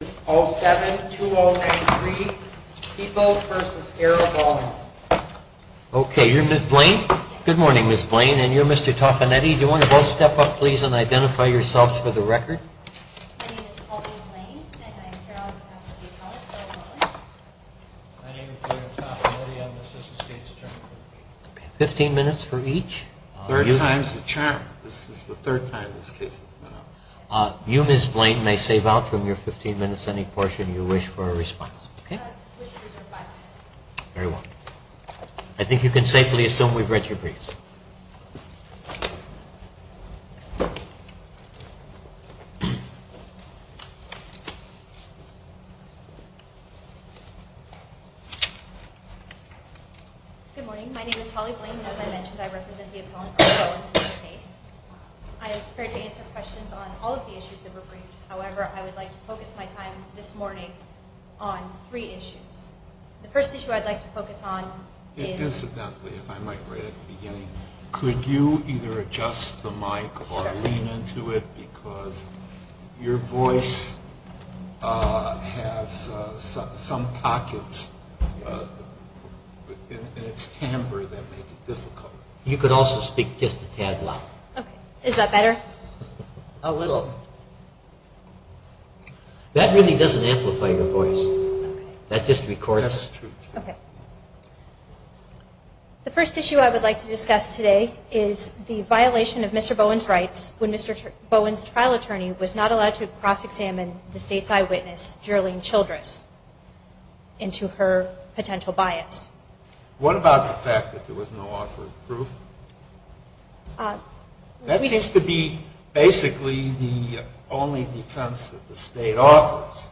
Okay, you're Ms. Blaine? Good morning, Ms. Blaine, and you're Mr. Toffanetti. Do you want to both step up, please, and identify yourselves for the record? My name is Pauline Blaine, and I'm here on behalf of the College Board of Law Enforcement. My name is William Toffanetti. I'm the Assistant State's Attorney. Fifteen minutes for each. Third time's the charm. This is the third time this case has been out. You, Ms. Blaine, may save out from your fifteen minutes any portion you wish for a response. I think you can safely assume we've read your briefs. Good morning. My name is Holly Blaine, and as I mentioned, I represent the appellant, Pauline Bowens, in this case. I am prepared to answer questions on all of the issues that were briefed. However, I would like to focus my time this morning on three issues. The first issue I'd like to focus on is... lean into it because your voice has some pockets in its timbre that make it difficult. You could also speak just a tad louder. Okay. Is that better? A little. That really doesn't amplify your voice. Okay. That just records... That's true. Okay. The first issue I would like to discuss today is the violation of Mr. Bowen's rights when Mr. Bowen's trial attorney was not allowed to cross-examine the State's eyewitness, Jeralene Childress, into her potential bias. What about the fact that there was no author of proof? That seems to be basically the only defense that the State offers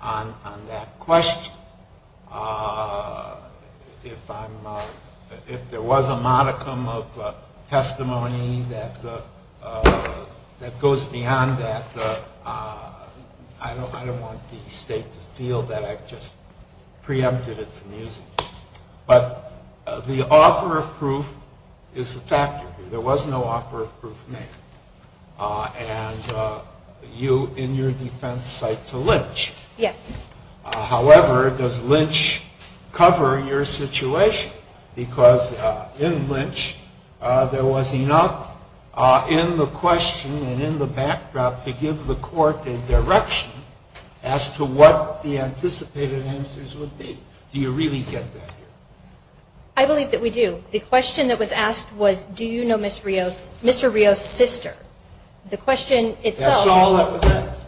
on that question. If there was a modicum of testimony that goes beyond that, I don't want the State to feel that I've just preempted it from using it. But the offer of proof is a factor here. There was no offer of proof made. And you, in your defense, cite to Lynch. Yes. However, does Lynch cover your situation? Because in Lynch, there was enough in the question and in the backdrop to give the court a direction as to what the anticipated answers would be. Do you really get that here? I believe that we do. The question that was asked was, do you know Mr. Rios' sister? That's all that was asked.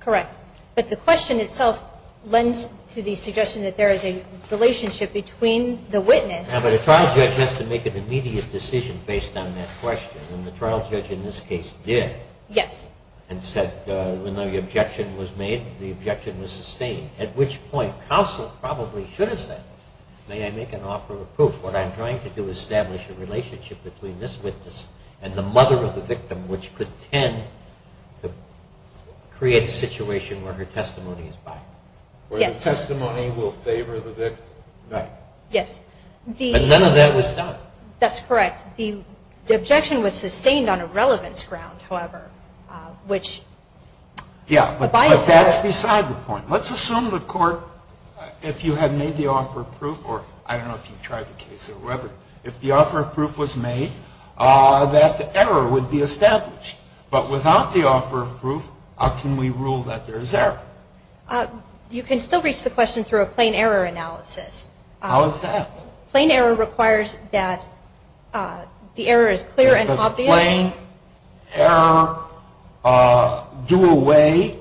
Correct. But the question itself lends to the suggestion that there is a relationship between the witness Now, but a trial judge has to make an immediate decision based on that question, and the trial judge in this case did. Yes. And said, even though the objection was made, the objection was sustained, at which point counsel probably should have said, may I make an offer of proof? What I'm trying to do is establish a relationship between this witness and the mother of the victim, which could tend to create a situation where her testimony is biased. Yes. Where the testimony will favor the victim. Right. Yes. But none of that was done. That's correct. Yeah, but that's beside the point. Let's assume the court, if you had made the offer of proof, or I don't know if you tried the case or whatever, if the offer of proof was made, that the error would be established. But without the offer of proof, how can we rule that there is error? You can still reach the question through a plain error analysis. How is that? Plain error requires that the error is clear and obvious. Does plain error do away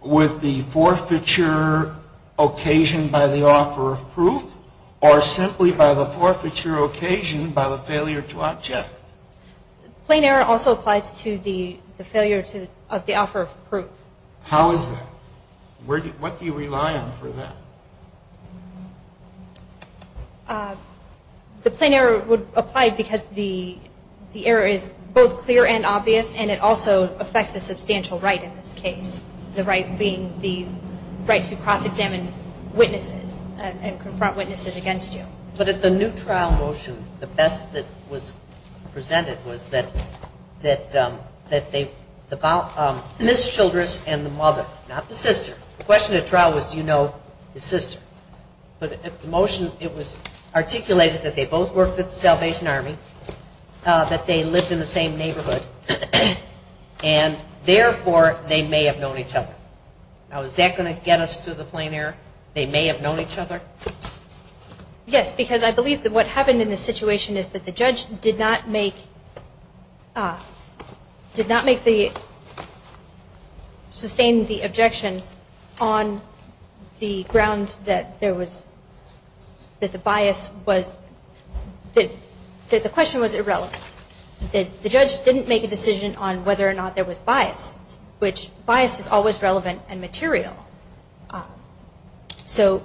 with the forfeiture occasion by the offer of proof, or simply by the forfeiture occasion by the failure to object? Plain error also applies to the failure of the offer of proof. How is that? What do you rely on for that? The plain error would apply because the error is both clear and obvious, and it also affects a substantial right in this case, the right being the right to cross-examine witnesses and confront witnesses against you. But at the new trial motion, the best that was presented was that they, Ms. Childress and the mother, not the sister, the question at trial was do you know the sister? But at the motion it was articulated that they both worked at the Salvation Army, that they lived in the same neighborhood, and therefore they may have known each other. Now, is that going to get us to the plain error, they may have known each other? Yes, because I believe that what happened in this situation is that the judge did not make, did not make the, sustain the objection on the grounds that there was, that the bias was, that the question was irrelevant. The judge didn't make a decision on whether or not there was bias, which bias is always relevant and material. So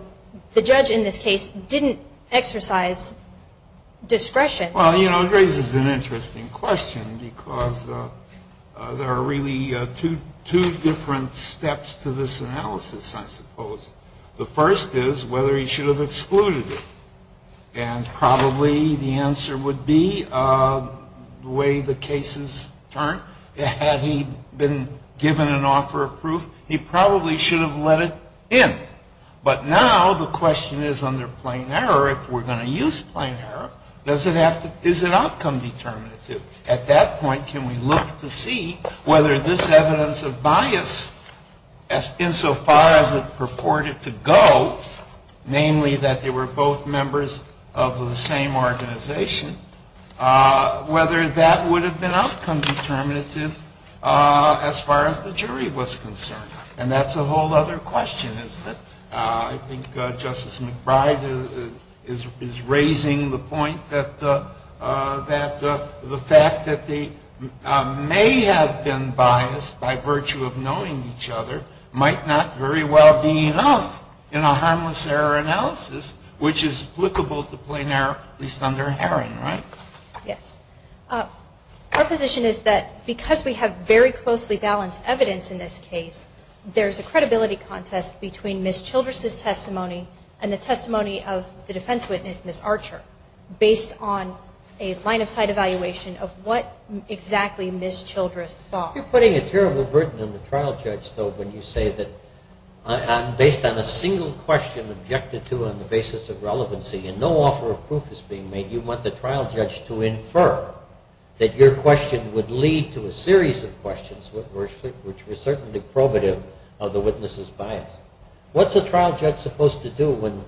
the judge in this case didn't exercise discretion. Well, you know, it raises an interesting question, because there are really two different steps to this analysis, I suppose. The first is whether he should have excluded it. And probably the answer would be the way the cases turn. Had he been given an offer of proof, he probably should have let it in. But now the question is under plain error, if we're going to use plain error, does it have to, is it outcome determinative? At that point, can we look to see whether this evidence of bias, insofar as it purported to go, namely that they were both members of the same organization, whether that would have been outcome determinative as far as the jury was concerned. And that's a whole other question, isn't it? I think Justice McBride is raising the point that the fact that they may have been biased by virtue of knowing each other might not very well be enough in a harmless error analysis, which is applicable to plain error, at least under Herring, right? Yes. Our position is that because we have very closely balanced evidence in this case, there's a credibility contest between Ms. Childress' testimony and the testimony of the defense witness, Ms. Archer, based on a line-of-sight evaluation of what exactly Ms. Childress saw. You're putting a terrible burden on the trial judge, though, when you say that based on a single question objected to on the basis of relevancy, and no offer of proof is being made, you want the trial judge to infer that your question would lead to a series of questions which were certainly probative of the witness's bias. What's a trial judge supposed to do when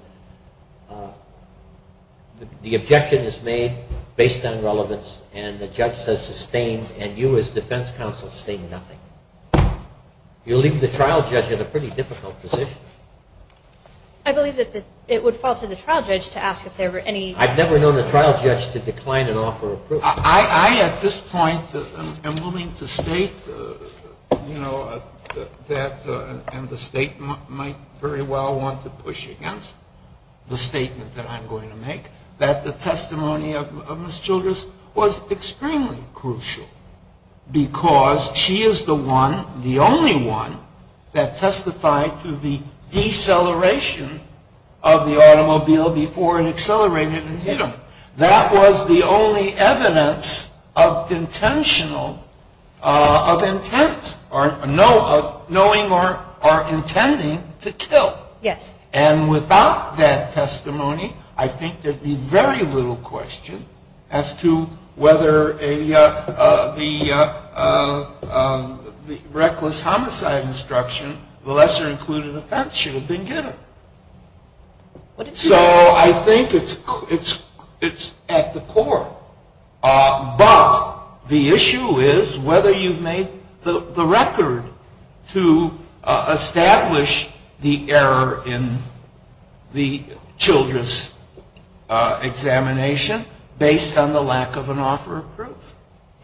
the objection is made based on relevance and the judge says sustained and you as defense counsel say nothing? You leave the trial judge in a pretty difficult position. I believe that it would fall to the trial judge to ask if there were any... I've never known a trial judge to decline an offer of proof. I, at this point, am willing to state that, and the state might very well want to push against the statement that I'm going to make, that the testimony of Ms. Childress was extremely crucial because she is the one, the only one, that testified to the deceleration of the automobile before it accelerated and hit him. That was the only evidence of intentional, of intent, or knowing or intending to kill. Yes. And without that testimony, I think there would be very little question as to whether the reckless homicide instruction, the lesser included offense, should have been given. So I think it's at the core, but the issue is whether you've made the record to establish the error in the Childress examination based on the lack of an offer of proof.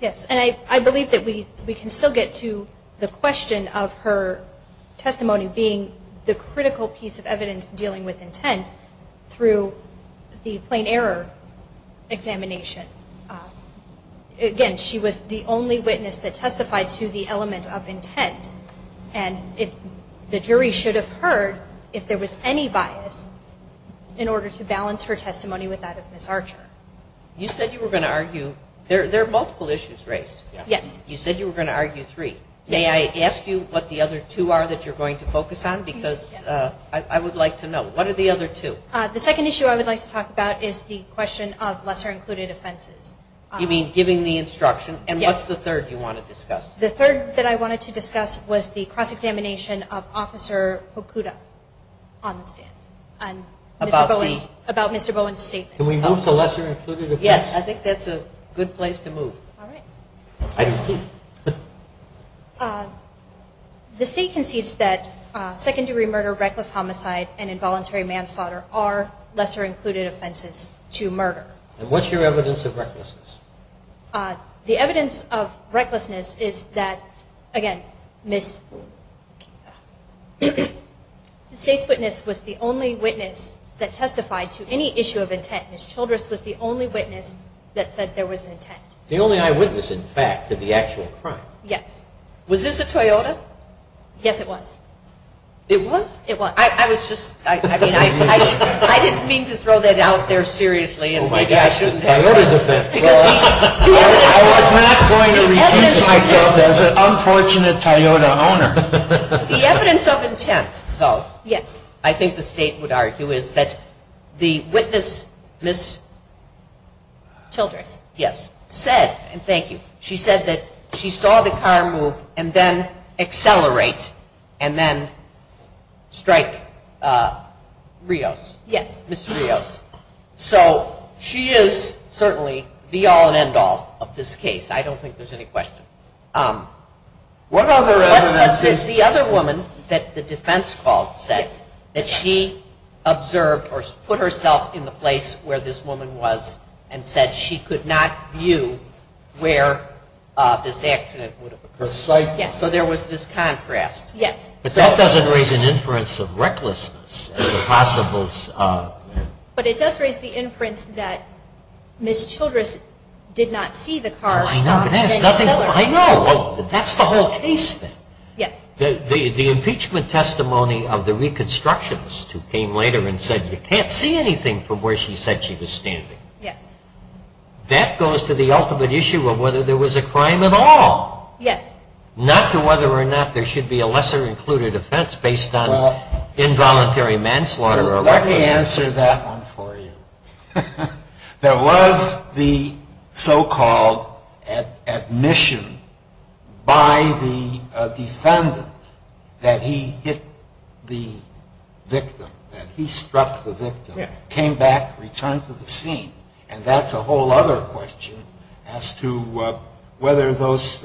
Yes, and I believe that we can still get to the question of her testimony being the critical piece of evidence dealing with intent through the plain error examination. Again, she was the only witness that testified to the element of intent, and the jury should have heard if there was any bias in order to balance her testimony with that of Ms. Archer. You said you were going to argue... There are multiple issues raised. Yes. You said you were going to argue three. May I ask you what the other two are that you're going to focus on? Yes. Because I would like to know. What are the other two? The second issue I would like to talk about is the question of lesser included offenses. You mean giving the instruction? Yes. And what's the third you want to discuss? The third that I wanted to discuss was the cross-examination of Officer Hokuda on the stand. About the? About Mr. Bowen's statement. Can we move to lesser included offenses? Yes, I think that's a good place to move. All right. The State concedes that second-degree murder, reckless homicide, and involuntary manslaughter are lesser included offenses to murder. And what's your evidence of recklessness? The evidence of recklessness is that, again, the State's witness was the only witness that testified to any issue of intent. Ms. Childress was the only witness that said there was intent. The only eyewitness, in fact, to the actual crime. Yes. Was this a Toyota? Yes, it was. It was? It was. I was just, I mean, I didn't mean to throw that out there seriously. Oh, my gosh, the Toyota defense. I was not going to refuse myself as an unfortunate Toyota owner. The evidence of intent, though, I think the State would argue, is that the witness, Ms. Childress, Yes. said, and thank you, she said that she saw the car move and then accelerate and then strike Rios. Yes. Ms. Rios. So she is certainly the all-and-end-all of this case. I don't think there's any question. What other evidence is the other woman that the defense called, said that she observed or put herself in the place where this woman was and said she could not view where this accident would have occurred. Her sight. Yes. So there was this contrast. Yes. But that doesn't raise an inference of recklessness as a possible. But it does raise the inference that Ms. Childress did not see the car stop and then accelerate. I know. That's the whole case then. Yes. The impeachment testimony of the reconstructionist who came later and said you can't see anything from where she said she was standing. Yes. That goes to the ultimate issue of whether there was a crime at all. Yes. Not to whether or not there should be a lesser-included offense based on involuntary manslaughter. Let me answer that one for you. There was the so-called admission by the defendant that he hit the victim, that he struck the victim. Yes. Came back, returned to the scene. And that's a whole other question as to whether those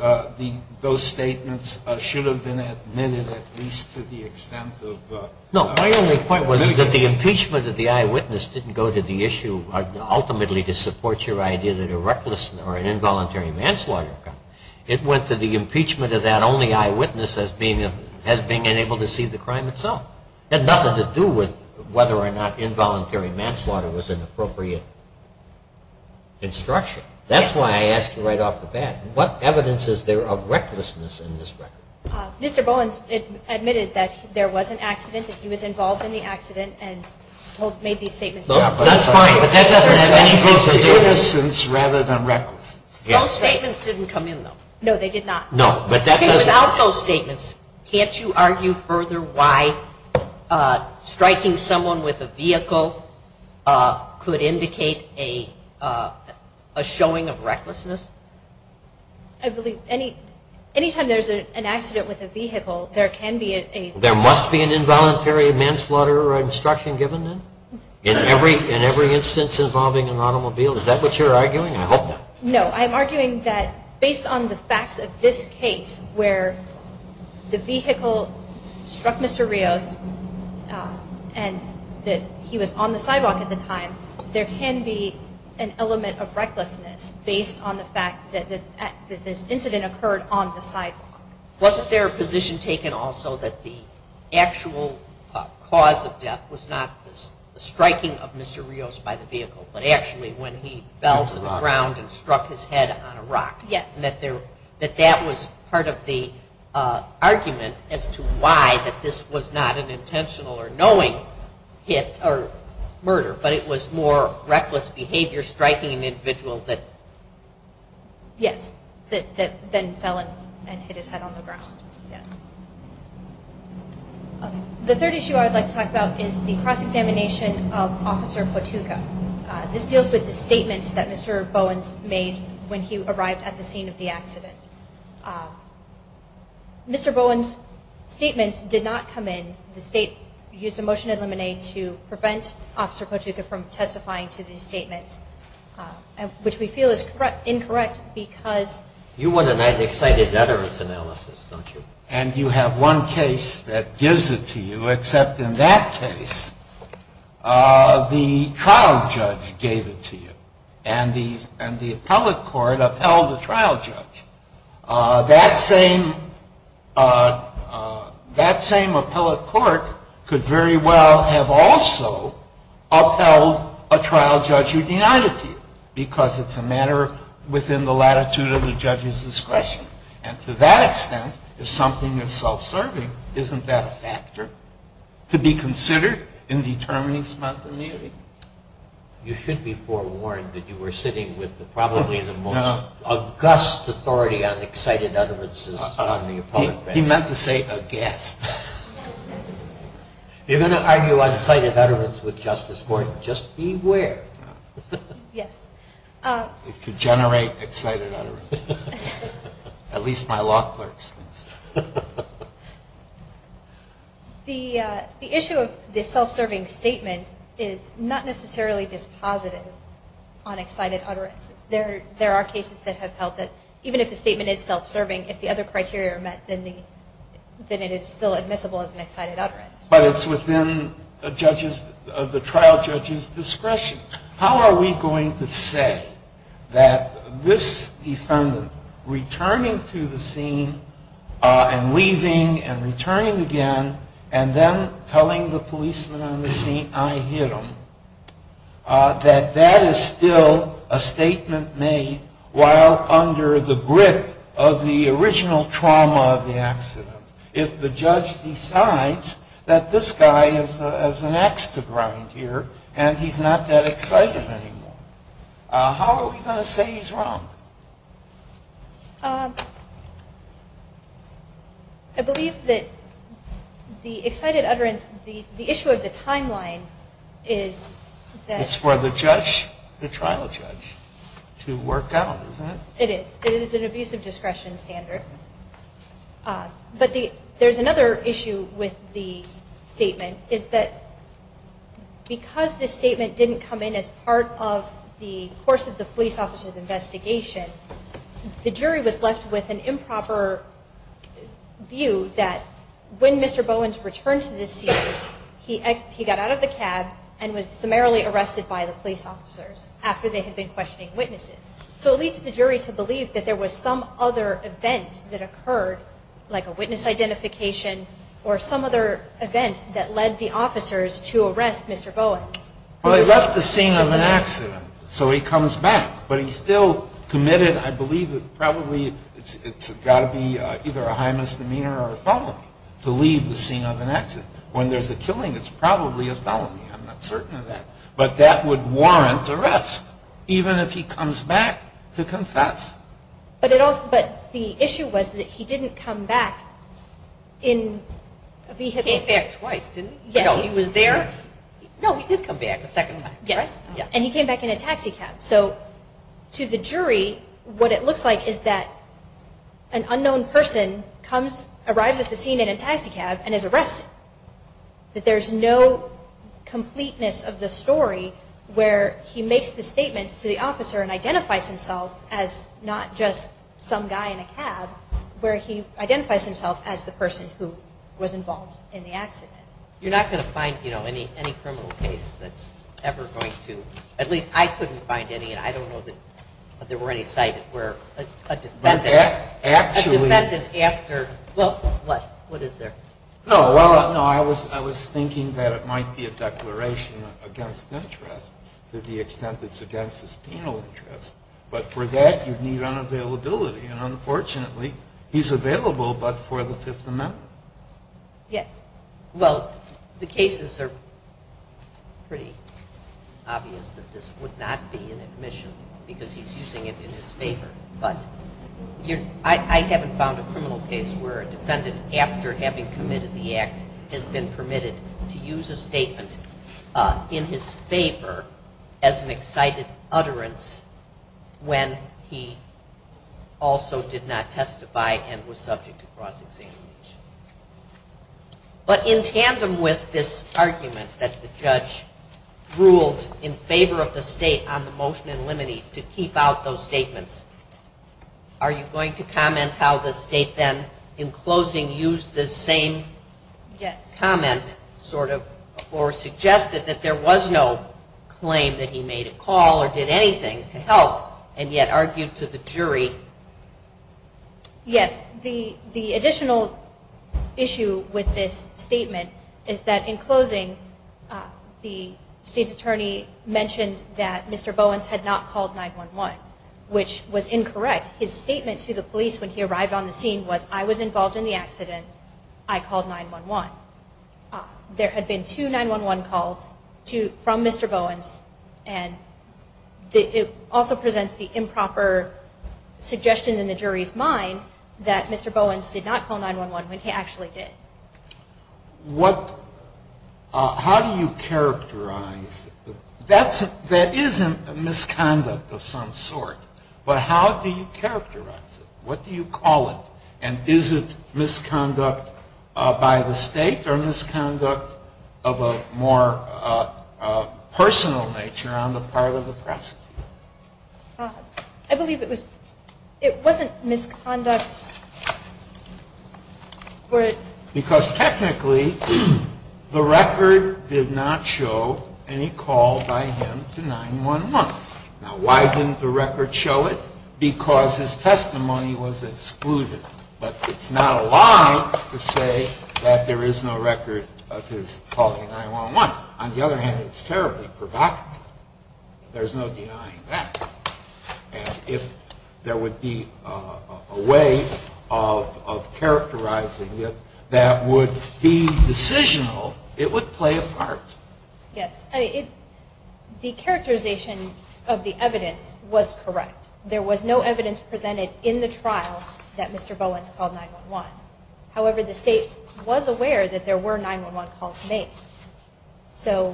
statements should have been admitted at least to the extent of litigation. No. My only point was that the impeachment of the eyewitness didn't go to the issue ultimately to support your idea that a reckless or an involuntary manslaughter occurred. It went to the impeachment of that only eyewitness as being unable to see the crime itself. It had nothing to do with whether or not involuntary manslaughter was an appropriate instruction. That's why I asked you right off the bat, what evidence is there of recklessness in this record? Mr. Bowens admitted that there was an accident, that he was involved in the accident and made these statements. That's fine, but that doesn't have anything to do with recklessness rather than recklessness. Those statements didn't come in, though. No, they did not. Without those statements, can't you argue further why striking someone with a vehicle could indicate a showing of recklessness? I believe anytime there's an accident with a vehicle, there can be a… There must be an involuntary manslaughter instruction given then? In every instance involving an automobile? Is that what you're arguing? I hope not. No, I'm arguing that based on the facts of this case where the vehicle struck Mr. Rios and that he was on the sidewalk at the time, there can be an element of recklessness based on the fact that this incident occurred on the sidewalk. Wasn't there a position taken also that the actual cause of death was not the striking of Mr. Rios by the vehicle, but actually when he fell to the ground and struck his head on a rock? Yes. That that was part of the argument as to why this was not an intentional or knowing murder, but it was more reckless behavior striking an individual that… Yes, that then fell and hit his head on the ground. Yes. The third issue I would like to talk about is the cross-examination of Officer Potuka. This deals with the statements that Mr. Bowens made when he arrived at the scene of the accident. Mr. Bowens' statements did not come in. The state used a motion to eliminate to prevent Officer Potuka from testifying to these statements, which we feel is incorrect because… You want an unexcited veterans analysis, don't you? And you have one case that gives it to you, except in that case the trial judge gave it to you, and the appellate court upheld the trial judge. That same appellate court could very well have also upheld a trial judge who denied it to you because it's a matter within the latitude of the judge's discretion. And to that extent, if something is self-serving, isn't that a factor to be considered in determining spontaneity? You should be forewarned that you were sitting with probably the most… No. …august authority on excited utterances on the appellate court. He meant to say aghast. You're going to argue on excited utterances with Justice Gordon? Just beware. Yes. It could generate excited utterances. At least my law clerk's. The issue of the self-serving statement is not necessarily dispositive on excited utterances. There are cases that have held that even if the statement is self-serving, if the other criteria are met, then it is still admissible as an excited utterance. But it's within the trial judge's discretion. How are we going to say that this defendant returning to the scene and leaving and returning again and then telling the policeman on the scene, I hit him, that that is still a statement made while under the grip of the original trauma of the accident? If the judge decides that this guy has an ax to grind here and he's not that excited anymore, how are we going to say he's wrong? I believe that the excited utterance, the issue of the timeline is that… It's for the judge, the trial judge, to work out, isn't it? It is. It is an abusive discretion standard. But there's another issue with the statement, is that because the statement didn't come in as part of the course of the police officer's investigation, the jury was left with an improper view that when Mr. Bowens returned to the scene, he got out of the cab and was summarily arrested by the police officers after they had been questioning witnesses. So it leads the jury to believe that there was some other event that occurred, like a witness identification or some other event that led the officers to arrest Mr. Bowens. Well, they left the scene of an accident, so he comes back. But he's still committed, I believe, probably it's got to be either a high misdemeanor or a felony to leave the scene of an accident. When there's a killing, it's probably a felony. I'm not certain of that. But that would warrant arrest, even if he comes back to confess. But the issue was that he didn't come back in a vehicle. He came back twice, didn't he? No. He was there? No, he did come back a second time. Yes. And he came back in a taxi cab. So to the jury, what it looks like is that an unknown person arrives at the scene in a taxi cab and is arrested. But that there's no completeness of the story where he makes the statements to the officer and identifies himself as not just some guy in a cab, where he identifies himself as the person who was involved in the accident. You're not going to find, you know, any criminal case that's ever going to – at least I couldn't find any, and I don't know that there were any cited where a defendant – Well, actually – A defendant after – well, what? What is there? No, well, no, I was thinking that it might be a declaration against interest to the extent it's against his penal interest. But for that, you'd need unavailability. And unfortunately, he's available but for the Fifth Amendment. Yes. Well, the cases are pretty obvious that this would not be an admission because he's using it in his favor. But I haven't found a criminal case where a defendant, after having committed the act, has been permitted to use a statement in his favor as an excited utterance when he also did not testify and was subject to cross-examination. But in tandem with this argument that the judge ruled in favor of the state on the motion in limine to keep out those statements, are you going to comment how the state then, in closing, used this same comment, sort of, or suggested that there was no claim that he made a call or did anything to help and yet argued to the jury? Yes. The additional issue with this statement is that, in closing, the state's attorney mentioned that Mr. Bowens had not called 9-1-1, which was incorrect. His statement to the police when he arrived on the scene was, I was involved in the accident. I called 9-1-1. There had been two 9-1-1 calls from Mr. Bowens, and it also presents the improper suggestion in the jury's mind that Mr. Bowens did not call 9-1-1 when he actually did. How do you characterize that? That isn't a misconduct of some sort, but how do you characterize it? What do you call it, and is it misconduct by the state or misconduct of a more personal nature on the part of the prosecutor? I believe it was, it wasn't misconduct. Because technically, the record did not show any call by him to 9-1-1. Now, why didn't the record show it? Because his testimony was excluded. But it's not a lie to say that there is no record of his calling 9-1-1. On the other hand, it's terribly provocative. There's no denying that. And if there would be a way of characterizing it that would be decisional, it would play a part. Yes, the characterization of the evidence was correct. There was no evidence presented in the trial that Mr. Bowens called 9-1-1. However, the state was aware that there were 9-1-1 calls made. How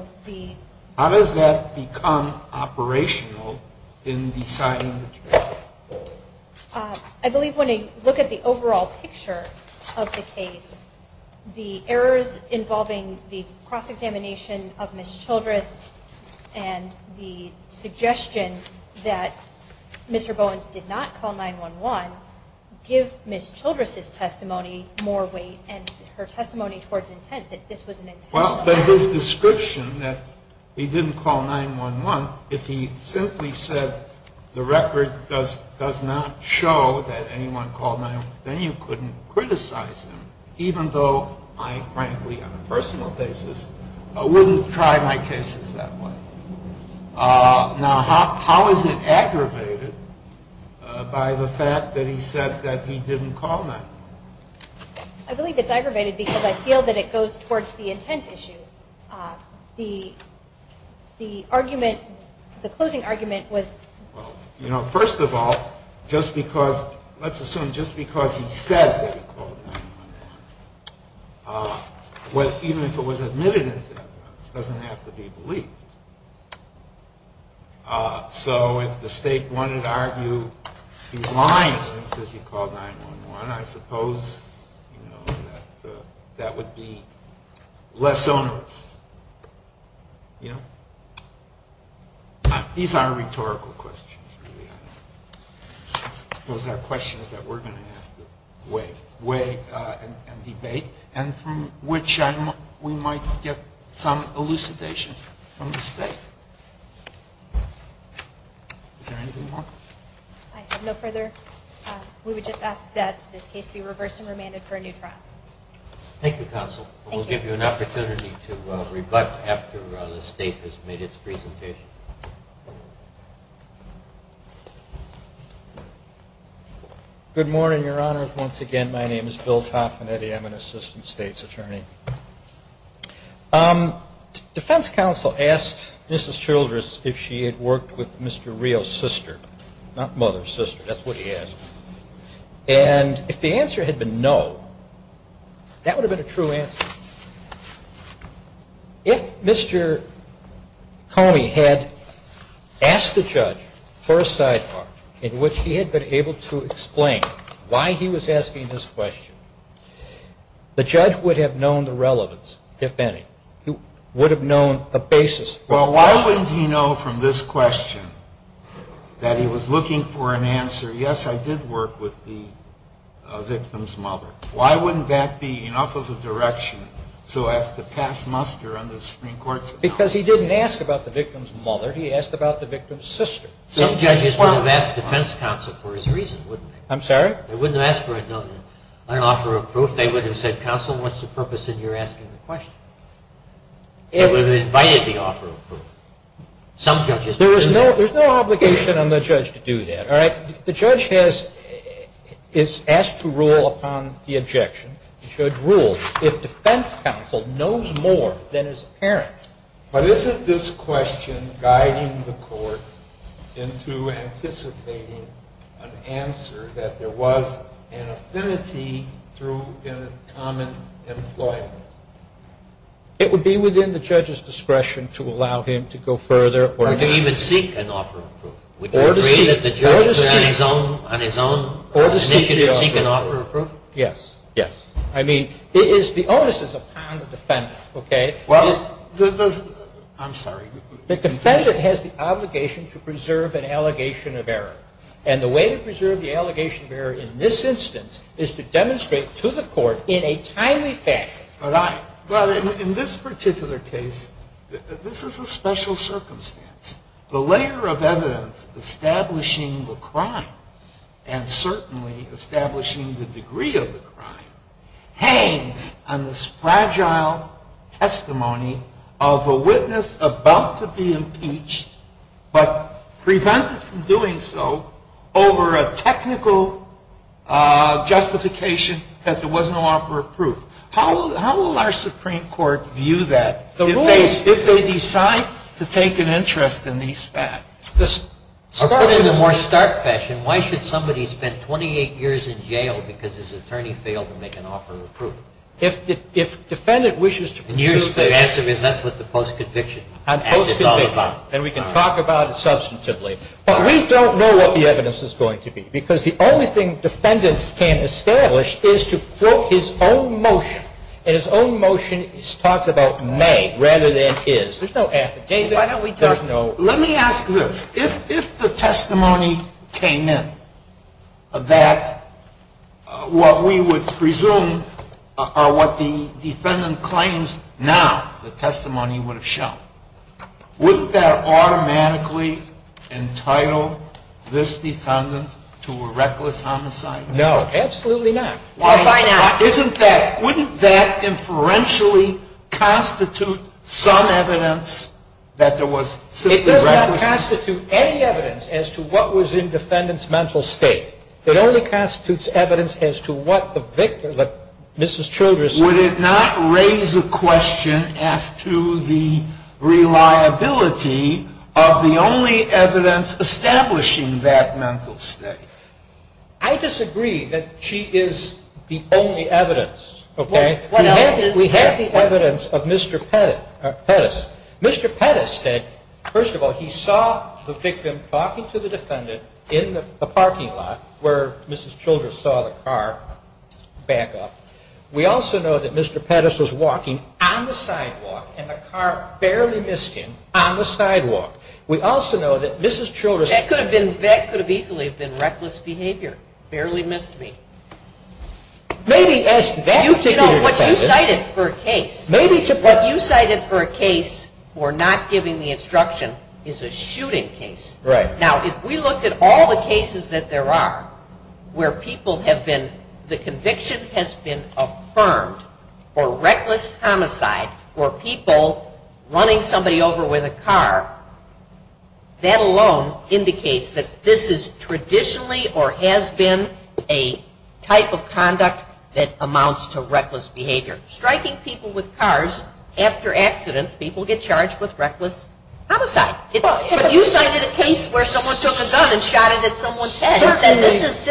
does that become operational in deciding the case? I believe when you look at the overall picture of the case, the errors involving the cross-examination of Ms. Childress and the suggestion that Mr. Bowens did not call 9-1-1 give Ms. Childress' testimony more weight and her testimony towards intent that this was an intentional error. But his description that he didn't call 9-1-1, if he simply said the record does not show that anyone called 9-1-1, then you couldn't criticize him, even though I frankly on a personal basis wouldn't try my cases that way. Now, how is it aggravated by the fact that he said that he didn't call 9-1-1? I believe it's aggravated because I feel that it goes towards the intent issue. The closing argument was... Well, first of all, let's assume just because he said that he called 9-1-1, even if it was admitted into evidence, it doesn't have to be believed. So if the state wanted to argue he's lying and says he called 9-1-1, I suppose that would be less onerous. These are rhetorical questions. Those are questions that we're going to have to weigh and debate and from which we might get some elucidation from the state. Is there anything more? I have no further... We would just ask that this case be reversed and remanded for a new trial. Thank you, Counsel. Thank you. We'll give you an opportunity to rebut after the state has made its presentation. Good morning, Your Honor. Once again, my name is Bill Toffinetti. I'm an assistant state's attorney. Defense counsel asked Mrs. Childress if she had worked with Mr. Rio's sister, not mother, sister. That's what he asked. And if the answer had been no, that would have been a true answer. If Mr. Comey had asked the judge for a sidebar in which he had been able to explain why he was asking this question, the judge would have known the relevance, if any. He would have known the basis. Well, why wouldn't he know from this question that he was looking for an answer, yes, I did work with the victim's mother? Why wouldn't that be enough of a direction so as to pass muster on the Supreme Court's analysis? Because he didn't ask about the victim's mother. He asked about the victim's sister. Some judges would have asked defense counsel for his reason, wouldn't they? I'm sorry? They wouldn't have asked for an offer of proof. They would have said, Counsel, what's the purpose in your asking the question? They would have invited the offer of proof. Some judges do that. There's no obligation on the judge to do that. All right? The judge is asked to rule upon the objection. The judge rules. If defense counsel knows more than his parent. But isn't this question guiding the court into anticipating an answer, that there was an affinity through common employment? It would be within the judge's discretion to allow him to go further. Or to even seek an offer of proof. Or to seek an offer of proof. Yes. Yes. I mean, the onus is upon the defendant. Okay? Well, I'm sorry. The defendant has the obligation to preserve an allegation of error. And the way to preserve the allegation of error in this instance is to demonstrate to the court in a timely fashion. All right. Well, in this particular case, this is a special circumstance. The layer of evidence establishing the crime, and certainly establishing the degree of the crime, hangs on this fragile testimony of a witness about to be impeached, but prevented from doing so over a technical justification that there was no offer of proof. How will our Supreme Court view that? If they decide to take an interest in these facts, or put it in a more stark fashion, why should somebody spend 28 years in jail because his attorney failed to make an offer of proof? If defendant wishes to preserve the evidence. And the answer is that's what the post-conviction act is all about. And we can talk about it substantively. But we don't know what the evidence is going to be. Because the only thing defendants can establish is to quote his own motion. And his own motion talks about may rather than is. There's no after. David, there's no. Let me ask this. If the testimony came in that what we would presume are what the defendant claims now the testimony would have shown, wouldn't that automatically entitle this defendant to a reckless homicide? No, absolutely not. Why not? Isn't that, wouldn't that inferentially constitute some evidence that there was simply reckless homicide? It does not constitute any evidence as to what was in defendant's mental state. It only constitutes evidence as to what the victim, Mrs. Childress. Would it not raise a question as to the reliability of the only evidence establishing that mental state? I disagree that she is the only evidence. Okay? What else is? We have the evidence of Mr. Pettis. Mr. Pettis said, first of all, he saw the victim talking to the defendant in the parking lot where Mrs. Childress saw the car back up. We also know that Mr. Pettis was walking on the sidewalk and the car barely missed him on the sidewalk. We also know that Mrs. Childress. That could have easily been reckless behavior, barely missed me. Maybe as to that particular defendant. You know, what you cited for a case. Maybe to. What you cited for a case for not giving the instruction is a shooting case. Right. Now, if we looked at all the cases that there are where people have been, the conviction has been affirmed for reckless homicide or people running somebody over with a car. That alone indicates that this is traditionally or has been a type of conduct that amounts to reckless behavior. Striking people with cars after accidents, people get charged with reckless homicide. But you cited a case where someone took a gun and shot it at someone's head.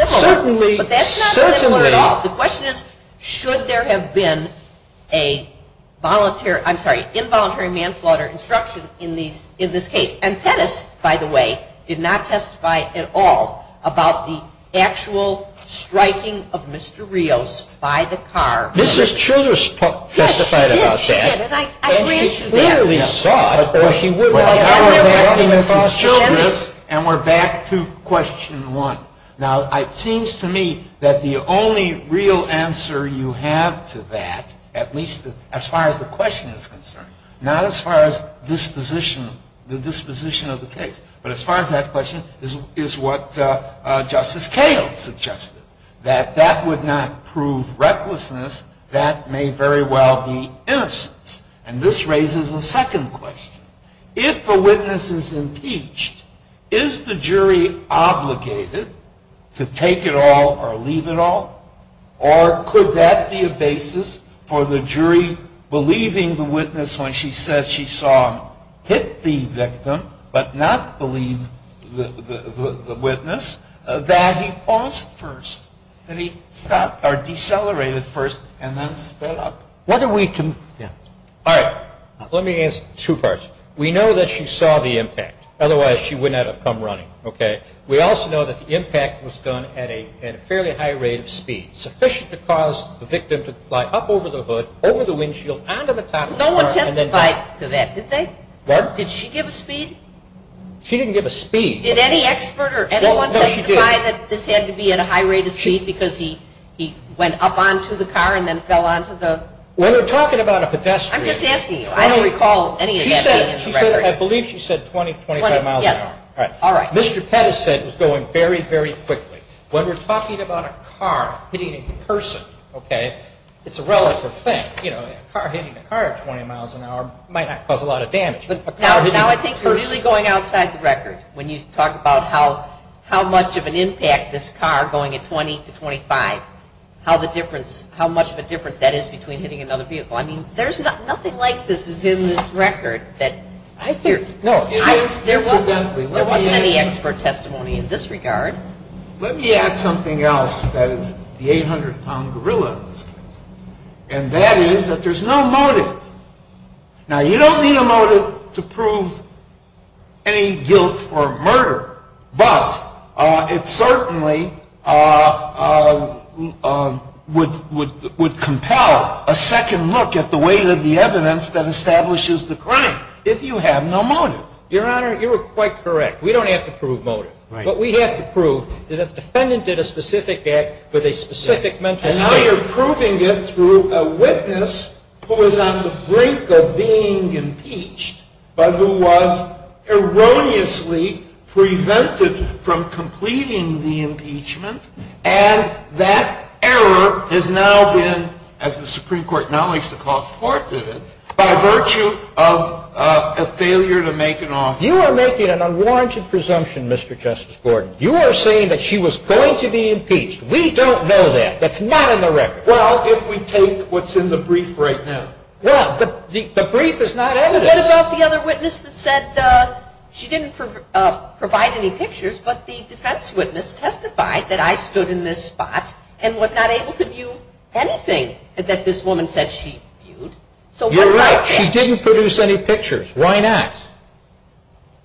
Certainly. But that's not similar at all. The question is, should there have been a involuntary manslaughter instruction in this case? And Pettis, by the way, did not testify at all about the actual striking of Mr. Rios by the car. Mrs. Childress testified about that. Yes, she did. She did. And I grant you that. And she clearly saw it. Of course, she would have. And we're back to question one. Now, it seems to me that the only real answer you have to that, at least as far as the question is concerned, not as far as the disposition of the case, but as far as that question, is what Justice Kale suggested, that that would not prove recklessness. That may very well be innocence. And this raises a second question. If a witness is impeached, is the jury obligated to take it all or leave it all? Or could that be a basis for the jury believing the witness when she said she saw him hit the victim but not believe the witness that he paused first, that he stopped or decelerated first and then sped up? What are we to do? All right. Let me answer two parts. We know that she saw the impact. Otherwise, she would not have come running. Okay? We also know that the impact was done at a fairly high rate of speed, sufficient to cause the victim to fly up over the hood, over the windshield, onto the top of the car, and then back. No one testified to that, did they? What? Did she give a speed? She didn't give a speed. Did any expert or anyone testify that this had to be at a high rate of speed because he went up onto the car and then fell onto the? When we're talking about a pedestrian. I'm just asking you. I don't recall any of that being in the record. I believe she said 20, 25 miles an hour. All right. Mr. Pettis said it was going very, very quickly. When we're talking about a car hitting a person, okay, it's a relative thing. You know, a car hitting a car at 20 miles an hour might not cause a lot of damage. But now I think you're really going outside the record when you talk about how much of an impact this car going at 20 to 25, how much of a difference that is between hitting another vehicle. I mean, nothing like this is in this record. No, there wasn't any expert testimony in this regard. Let me add something else that is the 800-pound gorilla in this case, and that is that there's no motive. Now, you don't need a motive to prove any guilt for murder. But it certainly would compel a second look at the weight of the evidence that establishes the crime if you have no motive. Your Honor, you are quite correct. We don't have to prove motive. Right. But we have to prove that the defendant did a specific act with a specific mental state. And now you're proving it through a witness who is on the brink of being impeached, but who was erroneously prevented from completing the impeachment. And that error has now been, as the Supreme Court now makes the call, forfeited by virtue of a failure to make an offer. You are making an unwarranted presumption, Mr. Justice Gordon. You are saying that she was going to be impeached. We don't know that. That's not in the record. Well, if we take what's in the brief right now. Well, the brief is not evidence. What about the other witness that said she didn't provide any pictures, but the defense witness testified that I stood in this spot and was not able to view anything that this woman said she viewed. You're right. She didn't produce any pictures. Why not?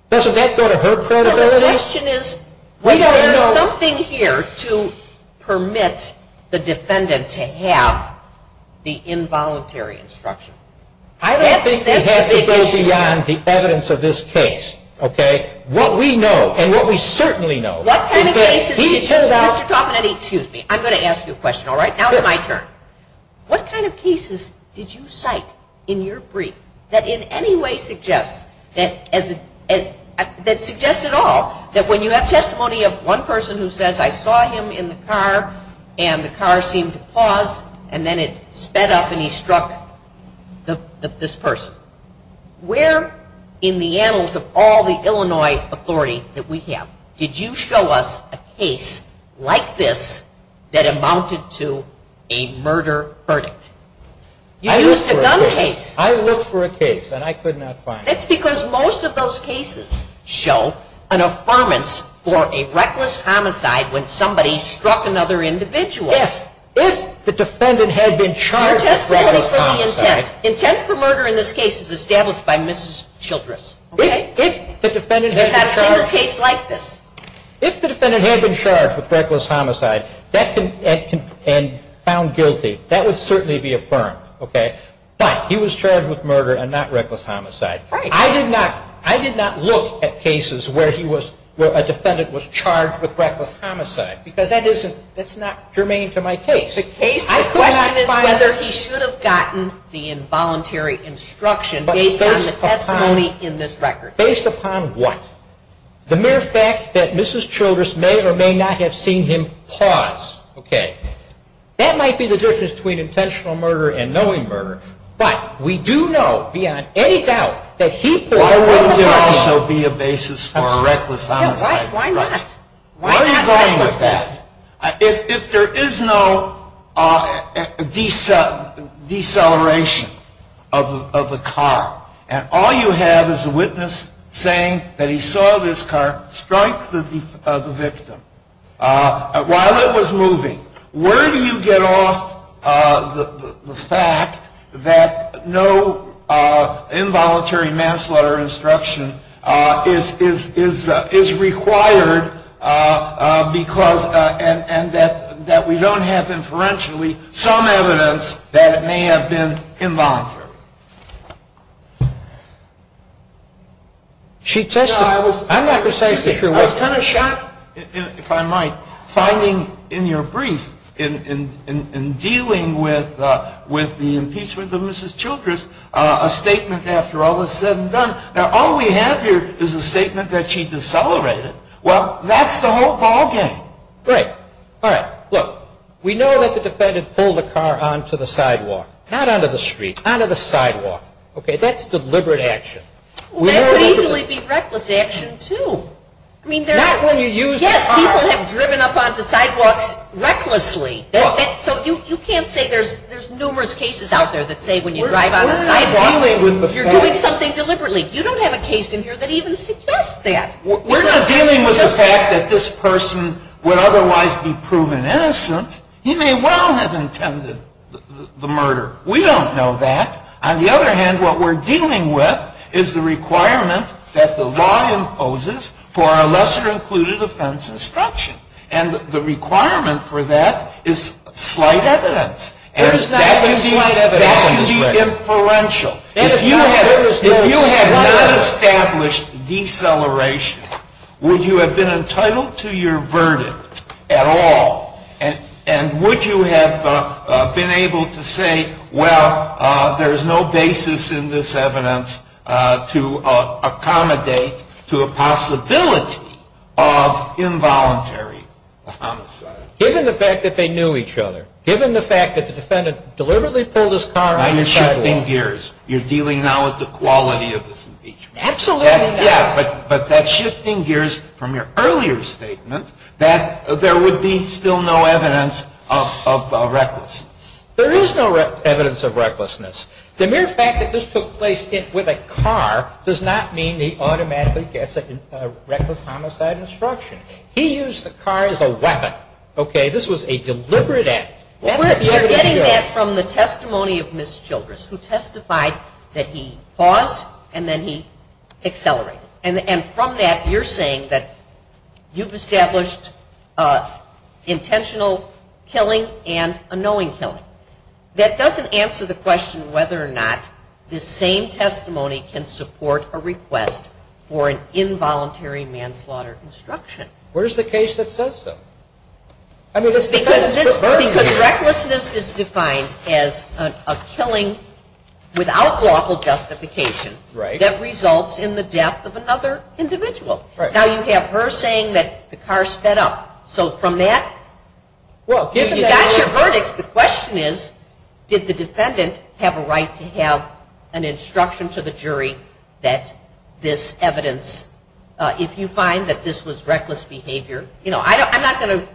Doesn't that go to her credibility? The question is, was there something here to permit the defendant to have the involuntary instruction? I don't think we have to go beyond the evidence of this case. What we know, and what we certainly know, is that he turned out. Excuse me. I'm going to ask you a question, all right? Now it's my turn. What kind of cases did you cite in your brief that in any way suggests, that suggests at all, that when you have testimony of one person who says I saw him in the car and the car seemed to pause and then it sped up and he struck this person? Where in the annals of all the Illinois authority that we have did you show us a case like this that amounted to a murder verdict? You used a gun case. I looked for a case and I could not find it. That's because most of those cases show an affirmance for a reckless homicide when somebody struck another individual. Yes. If the defendant had been charged with reckless homicide. Your testimony for the intent, intent for murder in this case is established by Mrs. Childress. Okay? If the defendant had been charged. There's not a single case like this. If the defendant had been charged with reckless homicide and found guilty, that would certainly be affirmed. Okay? But he was charged with murder and not reckless homicide. Right. I did not look at cases where a defendant was charged with reckless homicide because that's not germane to my case. The question is whether he should have gotten the involuntary instruction based on the testimony in this record. Based upon what? The mere fact that Mrs. Childress may or may not have seen him pause. Okay. That might be the difference between intentional murder and knowing murder. But we do know beyond any doubt that he pulled the trigger. Why wouldn't there also be a basis for a reckless homicide? Why not? Why not reckless? Where are you going with that? If there is no deceleration of the car and all you have is a witness saying that he saw this car strike the victim while it was moving, where do you get off the fact that no involuntary manslaughter instruction is required and that we don't have inferentially some evidence that it may have been involuntary? She testified. I was kind of shocked, if I might, finding in your brief, in dealing with the impeachment of Mrs. Childress, a statement after all is said and done. Now, all we have here is a statement that she decelerated. Well, that's the whole ballgame. Right. All right. Look, we know that the defendant pulled the car onto the sidewalk. Not onto the street. Onto the sidewalk. Okay. That's deliberate action. That would easily be reckless action, too. Not when you use the car. Yes, people have driven up onto sidewalks recklessly. So you can't say there's numerous cases out there that say when you drive on a sidewalk you're doing something deliberately. You don't have a case in here that even suggests that. We're not dealing with the fact that this person would otherwise be proven innocent. He may well have intended the murder. We don't know that. On the other hand, what we're dealing with is the requirement that the law imposes for a lesser included offense instruction. And the requirement for that is slight evidence. There is not slight evidence. That can be inferential. If you had not established deceleration, would you have been entitled to your verdict at all? And would you have been able to say, well, there's no basis in this evidence to accommodate to a possibility of involuntary homicide? Given the fact that they knew each other. Given the fact that the defendant deliberately pulled his car onto the sidewalk. You're shifting gears. You're dealing now with the quality of this impeachment. Absolutely. But that's shifting gears from your earlier statement that there would be still no evidence of recklessness. There is no evidence of recklessness. The mere fact that this took place with a car does not mean he automatically gets a reckless homicide instruction. He used the car as a weapon, okay? This was a deliberate act. You're getting that from the testimony of Ms. Childress who testified that he paused and then he accelerated. And from that, you're saying that you've established intentional killing and a knowing killing. That doesn't answer the question whether or not this same testimony can support a request for an involuntary manslaughter instruction. Where's the case that says so? Because recklessness is defined as a killing without lawful justification that results in the death of another individual. Now you have her saying that the car sped up. So from that, you've got your verdict. The question is, did the defendant have a right to have an instruction to the jury that this evidence, if you find that this was reckless behavior, you know, I'm not going to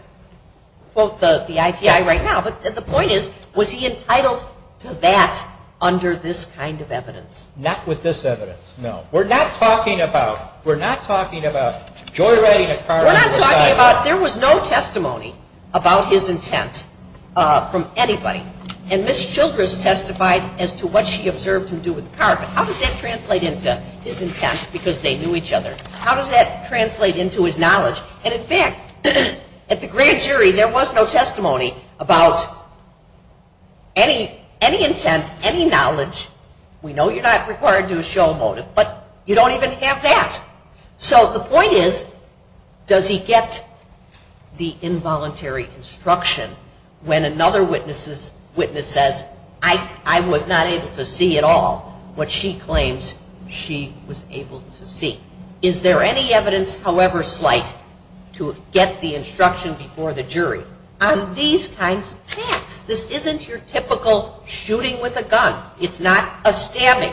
quote the IPI right now, but the point is, was he entitled to that under this kind of evidence? Not with this evidence, no. We're not talking about joyriding a car. We're not talking about, there was no testimony about his intent from anybody. And Ms. Childress testified as to what she observed him do with the car. How does that translate into his intent because they knew each other? How does that translate into his knowledge? And in fact, at the grand jury, there was no testimony about any intent, any knowledge. We know you're not required to show a motive, but you don't even have that. So the point is, does he get the involuntary instruction when another witness says, I was not able to see at all what she claims she was able to see? Is there any evidence, however slight, to get the instruction before the jury on these kinds of facts? This isn't your typical shooting with a gun. It's not a stabbing.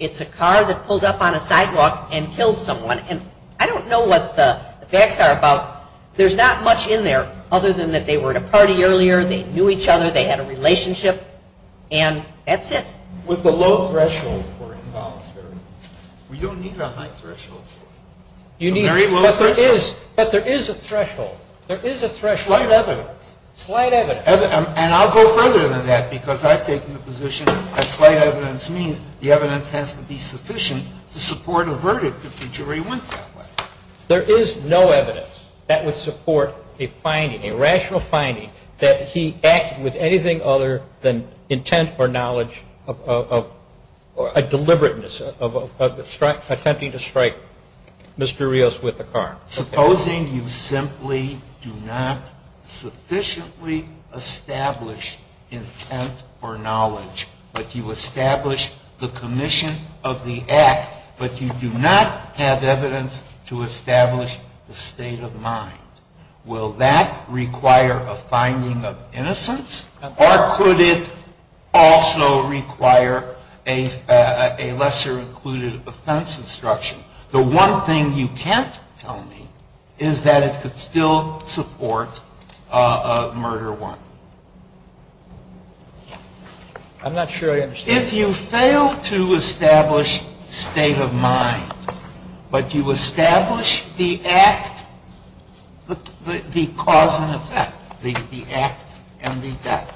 It's a car that pulled up on a sidewalk and killed someone. And I don't know what the facts are about. There's not much in there other than that they were at a party earlier, they knew each other, they had a relationship, and that's it. With the low threshold for involuntary, we don't need a high threshold for it. But there is a threshold. There is a threshold. Slight evidence. Slight evidence. And I'll go further than that because I've taken the position that slight evidence means the evidence has to be sufficient to support a verdict if the jury went that way. There is no evidence that would support a finding, a rational finding, that he acted with anything other than intent or knowledge of a deliberateness of attempting to strike Mr. Rios with a car. Supposing you simply do not sufficiently establish intent or knowledge, but you establish the commission of the act, but you do not have evidence to establish the state of mind, will that require a finding of innocence or could it also require a lesser included offense instruction? The one thing you can't tell me is that it could still support a murder warrant. I'm not sure I understand. If you fail to establish state of mind, but you establish the act, the cause and effect, the act and the death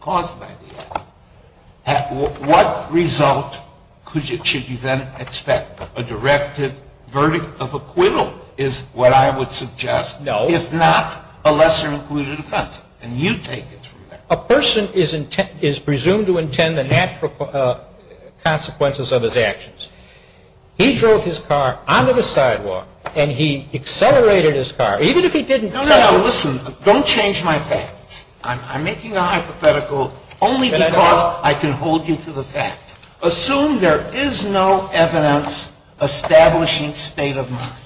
caused by the act, what result should you then expect? A directive verdict of acquittal is what I would suggest. No. If not, a lesser included offense. And you take it from there. A person is presumed to intend the natural consequences of his actions. He drove his car onto the sidewalk and he accelerated his car, even if he didn't tell you. No, no, no, listen. Don't change my facts. I'm making a hypothetical only because I can hold you to the fact. Assume there is no evidence establishing state of mind.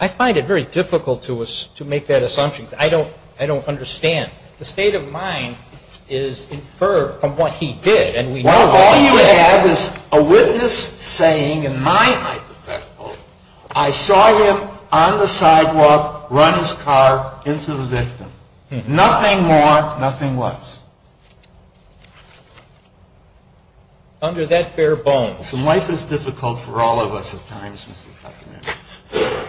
I find it very difficult to make that assumption. I don't understand. The state of mind is inferred from what he did. Well, all you have is a witness saying in my hypothetical, I saw him on the sidewalk, run his car into the victim. Nothing more, nothing less. Under that bare bones. And life is difficult for all of us at times, Mr. Toffanetti.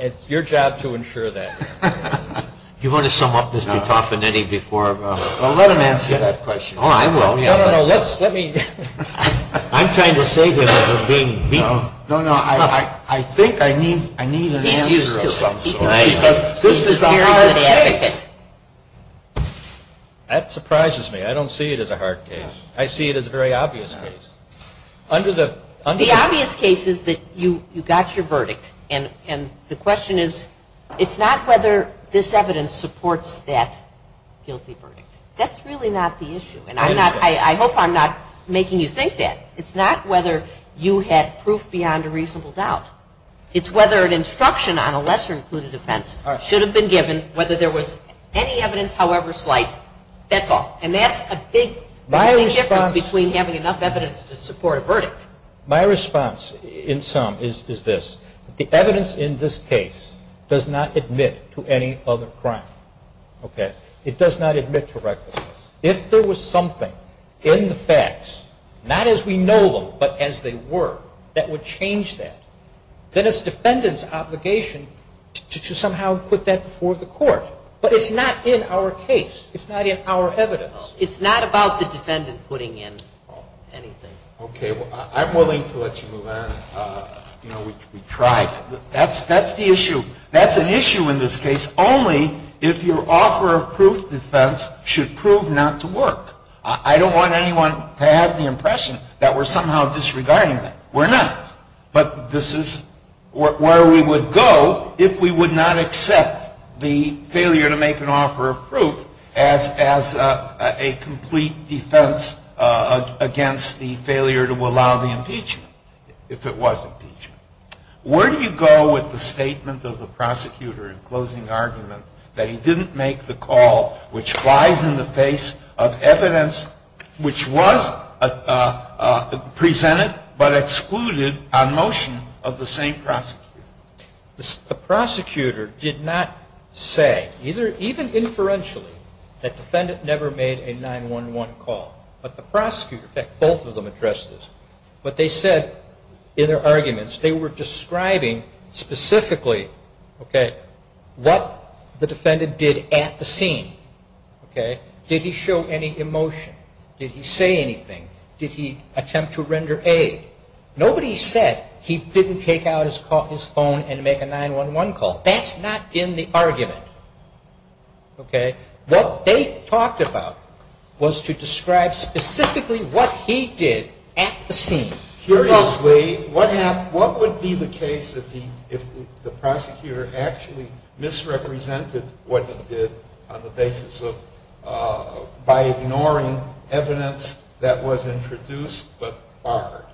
It's your job to ensure that. Do you want to sum up, Mr. Toffanetti, before? Well, let him answer that question. Oh, I will. No, no, no, let me. I'm trying to save him from being beaten. No, no, I think I need an answer of some sort. Because this is a hard case. That surprises me. I don't see it as a hard case. I see it as a very obvious case. The obvious case is that you got your verdict. And the question is, it's not whether this evidence supports that guilty verdict. That's really not the issue. And I hope I'm not making you think that. It's not whether you had proof beyond a reasonable doubt. It's whether an instruction on a lesser-included offense should have been given, whether there was any evidence, however slight. That's all. There's no difference between having enough evidence to support a verdict. My response in sum is this. The evidence in this case does not admit to any other crime. It does not admit to recklessness. If there was something in the facts, not as we know them, but as they were, that would change that, then it's the defendant's obligation to somehow put that before the court. But it's not in our case. It's not in our evidence. It's not about the defendant putting in anything. Okay. Well, I'm willing to let you move on. You know, we tried. That's the issue. That's an issue in this case only if your offer of proof defense should prove not to work. I don't want anyone to have the impression that we're somehow disregarding that. We're not. But this is where we would go if we would not accept the failure to make an offer of proof as a complete defense against the failure to allow the impeachment, if it was impeachment. Where do you go with the statement of the prosecutor in closing argument that he didn't make the call, which flies in the face of evidence which was presented but excluded on motion of the same prosecutor? The prosecutor did not say, even inferentially, that the defendant never made a 911 call. But the prosecutor, in fact, both of them addressed this, what they said in their arguments, they were describing specifically, okay, what the defendant did at the scene. Okay. Did he show any emotion? Did he say anything? Did he attempt to render aid? Nobody said he didn't take out his phone and make a 911 call. That's not in the argument. Okay. What they talked about was to describe specifically what he did at the scene. Curiously, what would be the case if the prosecutor actually misrepresented what he did by ignoring evidence that was introduced but barred?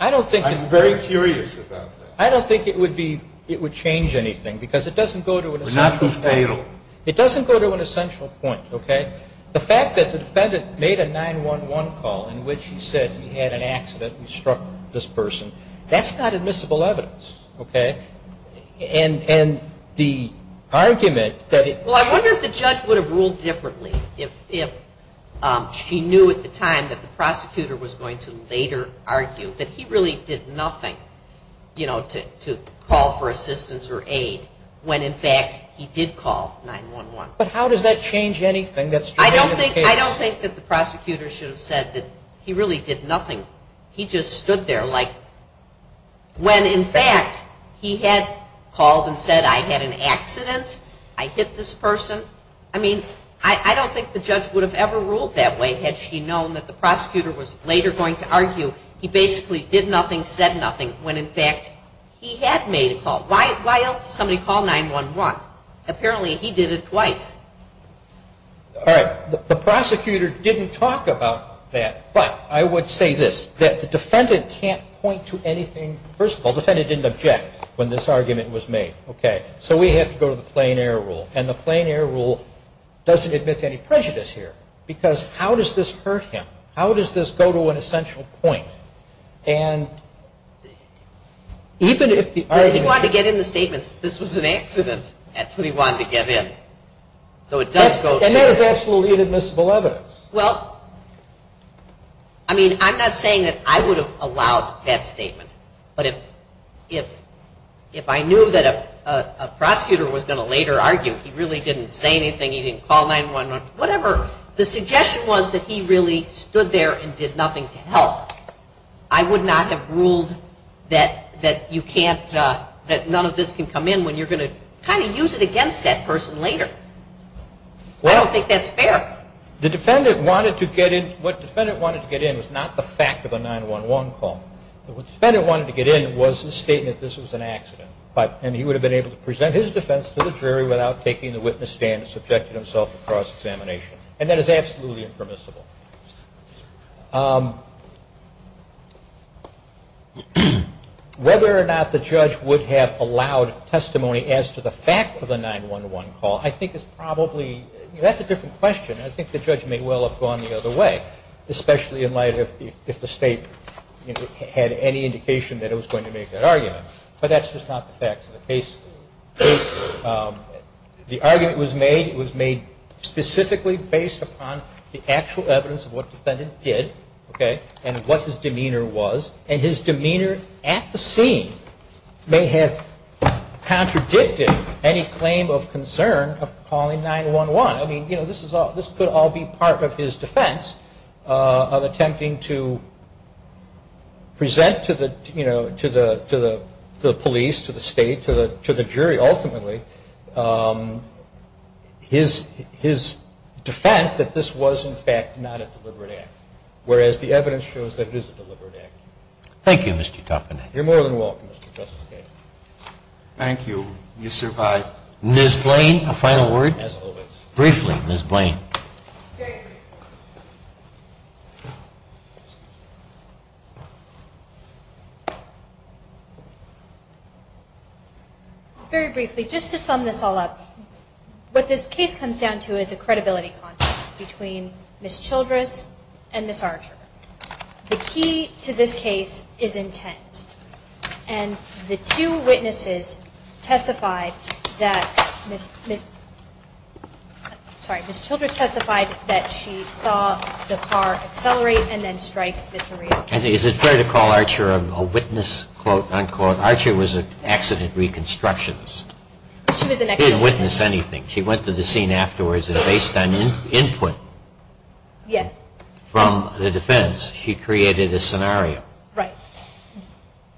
I'm very curious about that. I don't think it would change anything because it doesn't go to an essential point. It would not be fatal. It doesn't go to an essential point, okay? The fact that the defendant made a 911 call in which he said he had an accident and struck this person, that's not admissible evidence, okay? And the argument that it – Well, I wonder if the judge would have ruled differently if she knew at the time that the prosecutor was going to later argue that he really did nothing, you know, to call for assistance or aid when, in fact, he did call 911. But how does that change anything that's true of the case? I don't think that the prosecutor should have said that he really did nothing. He just stood there like when, in fact, he had called and said, I had an accident, I hit this person. I mean, I don't think the judge would have ever ruled that way had she known that the prosecutor was later going to argue he basically did nothing, said nothing, when, in fact, he had made a call. Why else would somebody call 911? Apparently he did it twice. All right. The prosecutor didn't talk about that, but I would say this, that the defendant can't point to anything – first of all, the defendant didn't object when this argument was made, okay? So we have to go to the plain air rule, and the plain air rule doesn't admit to any prejudice here because how does this hurt him? How does this go to an essential point? And even if the argument – But if he wanted to get in the statements, this was an accident, that's what he wanted to get in. So it does go to – And that is absolutely inadmissible evidence. Well, I mean, I'm not saying that I would have allowed that statement, but if I knew that a prosecutor was going to later argue he really didn't say anything, he didn't call 911, whatever, the suggestion was that he really stood there and did nothing to help. I would not have ruled that you can't – that none of this can come in when you're going to kind of use it against that person later. I don't think that's fair. The defendant wanted to get in – what the defendant wanted to get in was not the fact of a 911 call. What the defendant wanted to get in was the statement this was an accident, without taking the witness stand and subjecting himself to cross-examination. And that is absolutely impermissible. Whether or not the judge would have allowed testimony as to the fact of a 911 call, I think is probably – that's a different question. I think the judge may well have gone the other way, especially in light of if the state had any indication that it was going to make that argument. But that's just not the fact of the case. The argument was made specifically based upon the actual evidence of what the defendant did and what his demeanor was. And his demeanor at the scene may have contradicted any claim of concern of calling 911. I mean, this could all be part of his defense of attempting to present to the police, to the state, to the jury ultimately, his defense that this was in fact not a deliberate act, whereas the evidence shows that it is a deliberate act. Thank you, Mr. Duffin. You're more than welcome, Mr. Justice Kennedy. Thank you. You survived. Ms. Blaine, a final word? Briefly, Ms. Blaine. Very briefly, just to sum this all up, what this case comes down to is a credibility contest between Ms. Childress and Ms. Archer. The key to this case is intent. And the two witnesses testified that Ms. Childress testified that she saw the car accelerate and then strike Ms. Maria. Is it fair to call Archer a witness, unquote? Archer was an accident reconstructionist. She was an accident reconstructionist. She didn't witness anything. She went to the scene afterwards and based on input from the defense, she created a scenario. Right.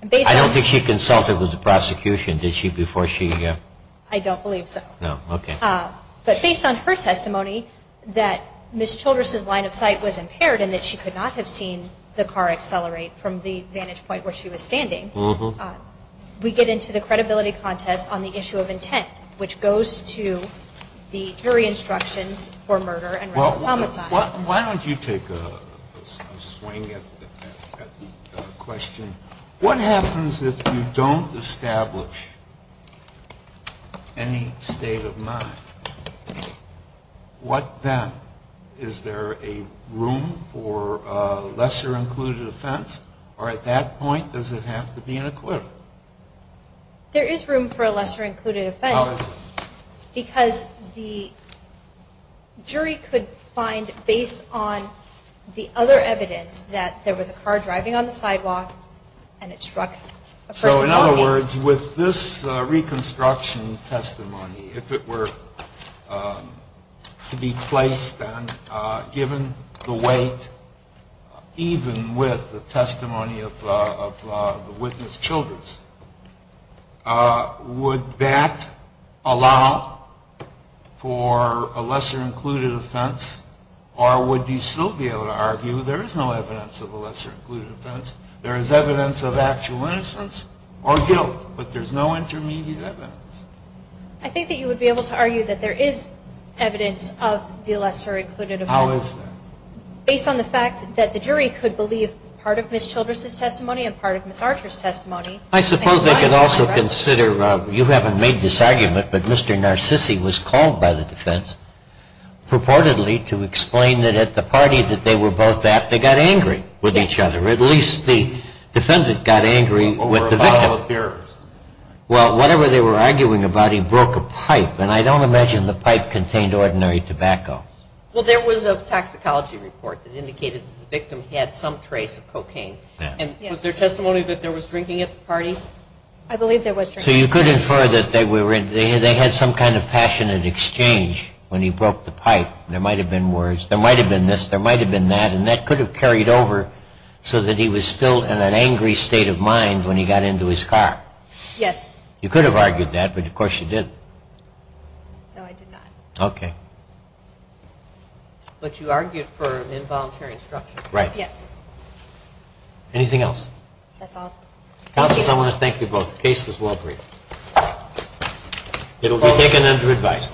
I don't think she consulted with the prosecution, did she, before she? I don't believe so. No. Okay. But based on her testimony that Ms. Childress' line of sight was impaired and that she could not have seen the car accelerate from the vantage point where she was standing, we get into the credibility contest on the issue of intent, which goes to the jury instructions for murder and rape and somicide. Why don't you take a swing at the question, what happens if you don't establish any state of mind? What then? Is there a room for a lesser-included offense? Or at that point, does it have to be an acquittal? There is room for a lesser-included offense. Because the jury could find, based on the other evidence, that there was a car driving on the sidewalk and it struck a person. So, in other words, with this reconstruction testimony, if it were to be placed and given the weight, even with the testimony of the witness, Childress, would that allow for a lesser-included offense? Or would you still be able to argue there is no evidence of a lesser-included offense? There is evidence of actual innocence or guilt, but there's no intermediate evidence. I think that you would be able to argue that there is evidence of the lesser-included offense. How is that? Based on the fact that the jury could believe part of Ms. Childress' testimony and part of Ms. Archer's testimony. I suppose they could also consider, you haven't made this argument, but Mr. Narcissi was called by the defense purportedly to explain that at the party that they were both at, they got angry with each other. At least the defendant got angry with the victim. Well, whatever they were arguing about, he broke a pipe. And I don't imagine the pipe contained ordinary tobacco. Well, there was a toxicology report that indicated the victim had some trace of cocaine. And was there testimony that there was drinking at the party? I believe there was drinking. So you could infer that they had some kind of passionate exchange when he broke the pipe. There might have been words, there might have been this, there might have been that, and that could have carried over so that he was still in an angry state of mind when he got into his car. Yes. You could have argued that, but of course you didn't. No, I did not. Okay. But you argued for involuntary instruction. Right. Yes. Anything else? That's all. Counselors, I want to thank you both. The case was well briefed. It will be taken under advice.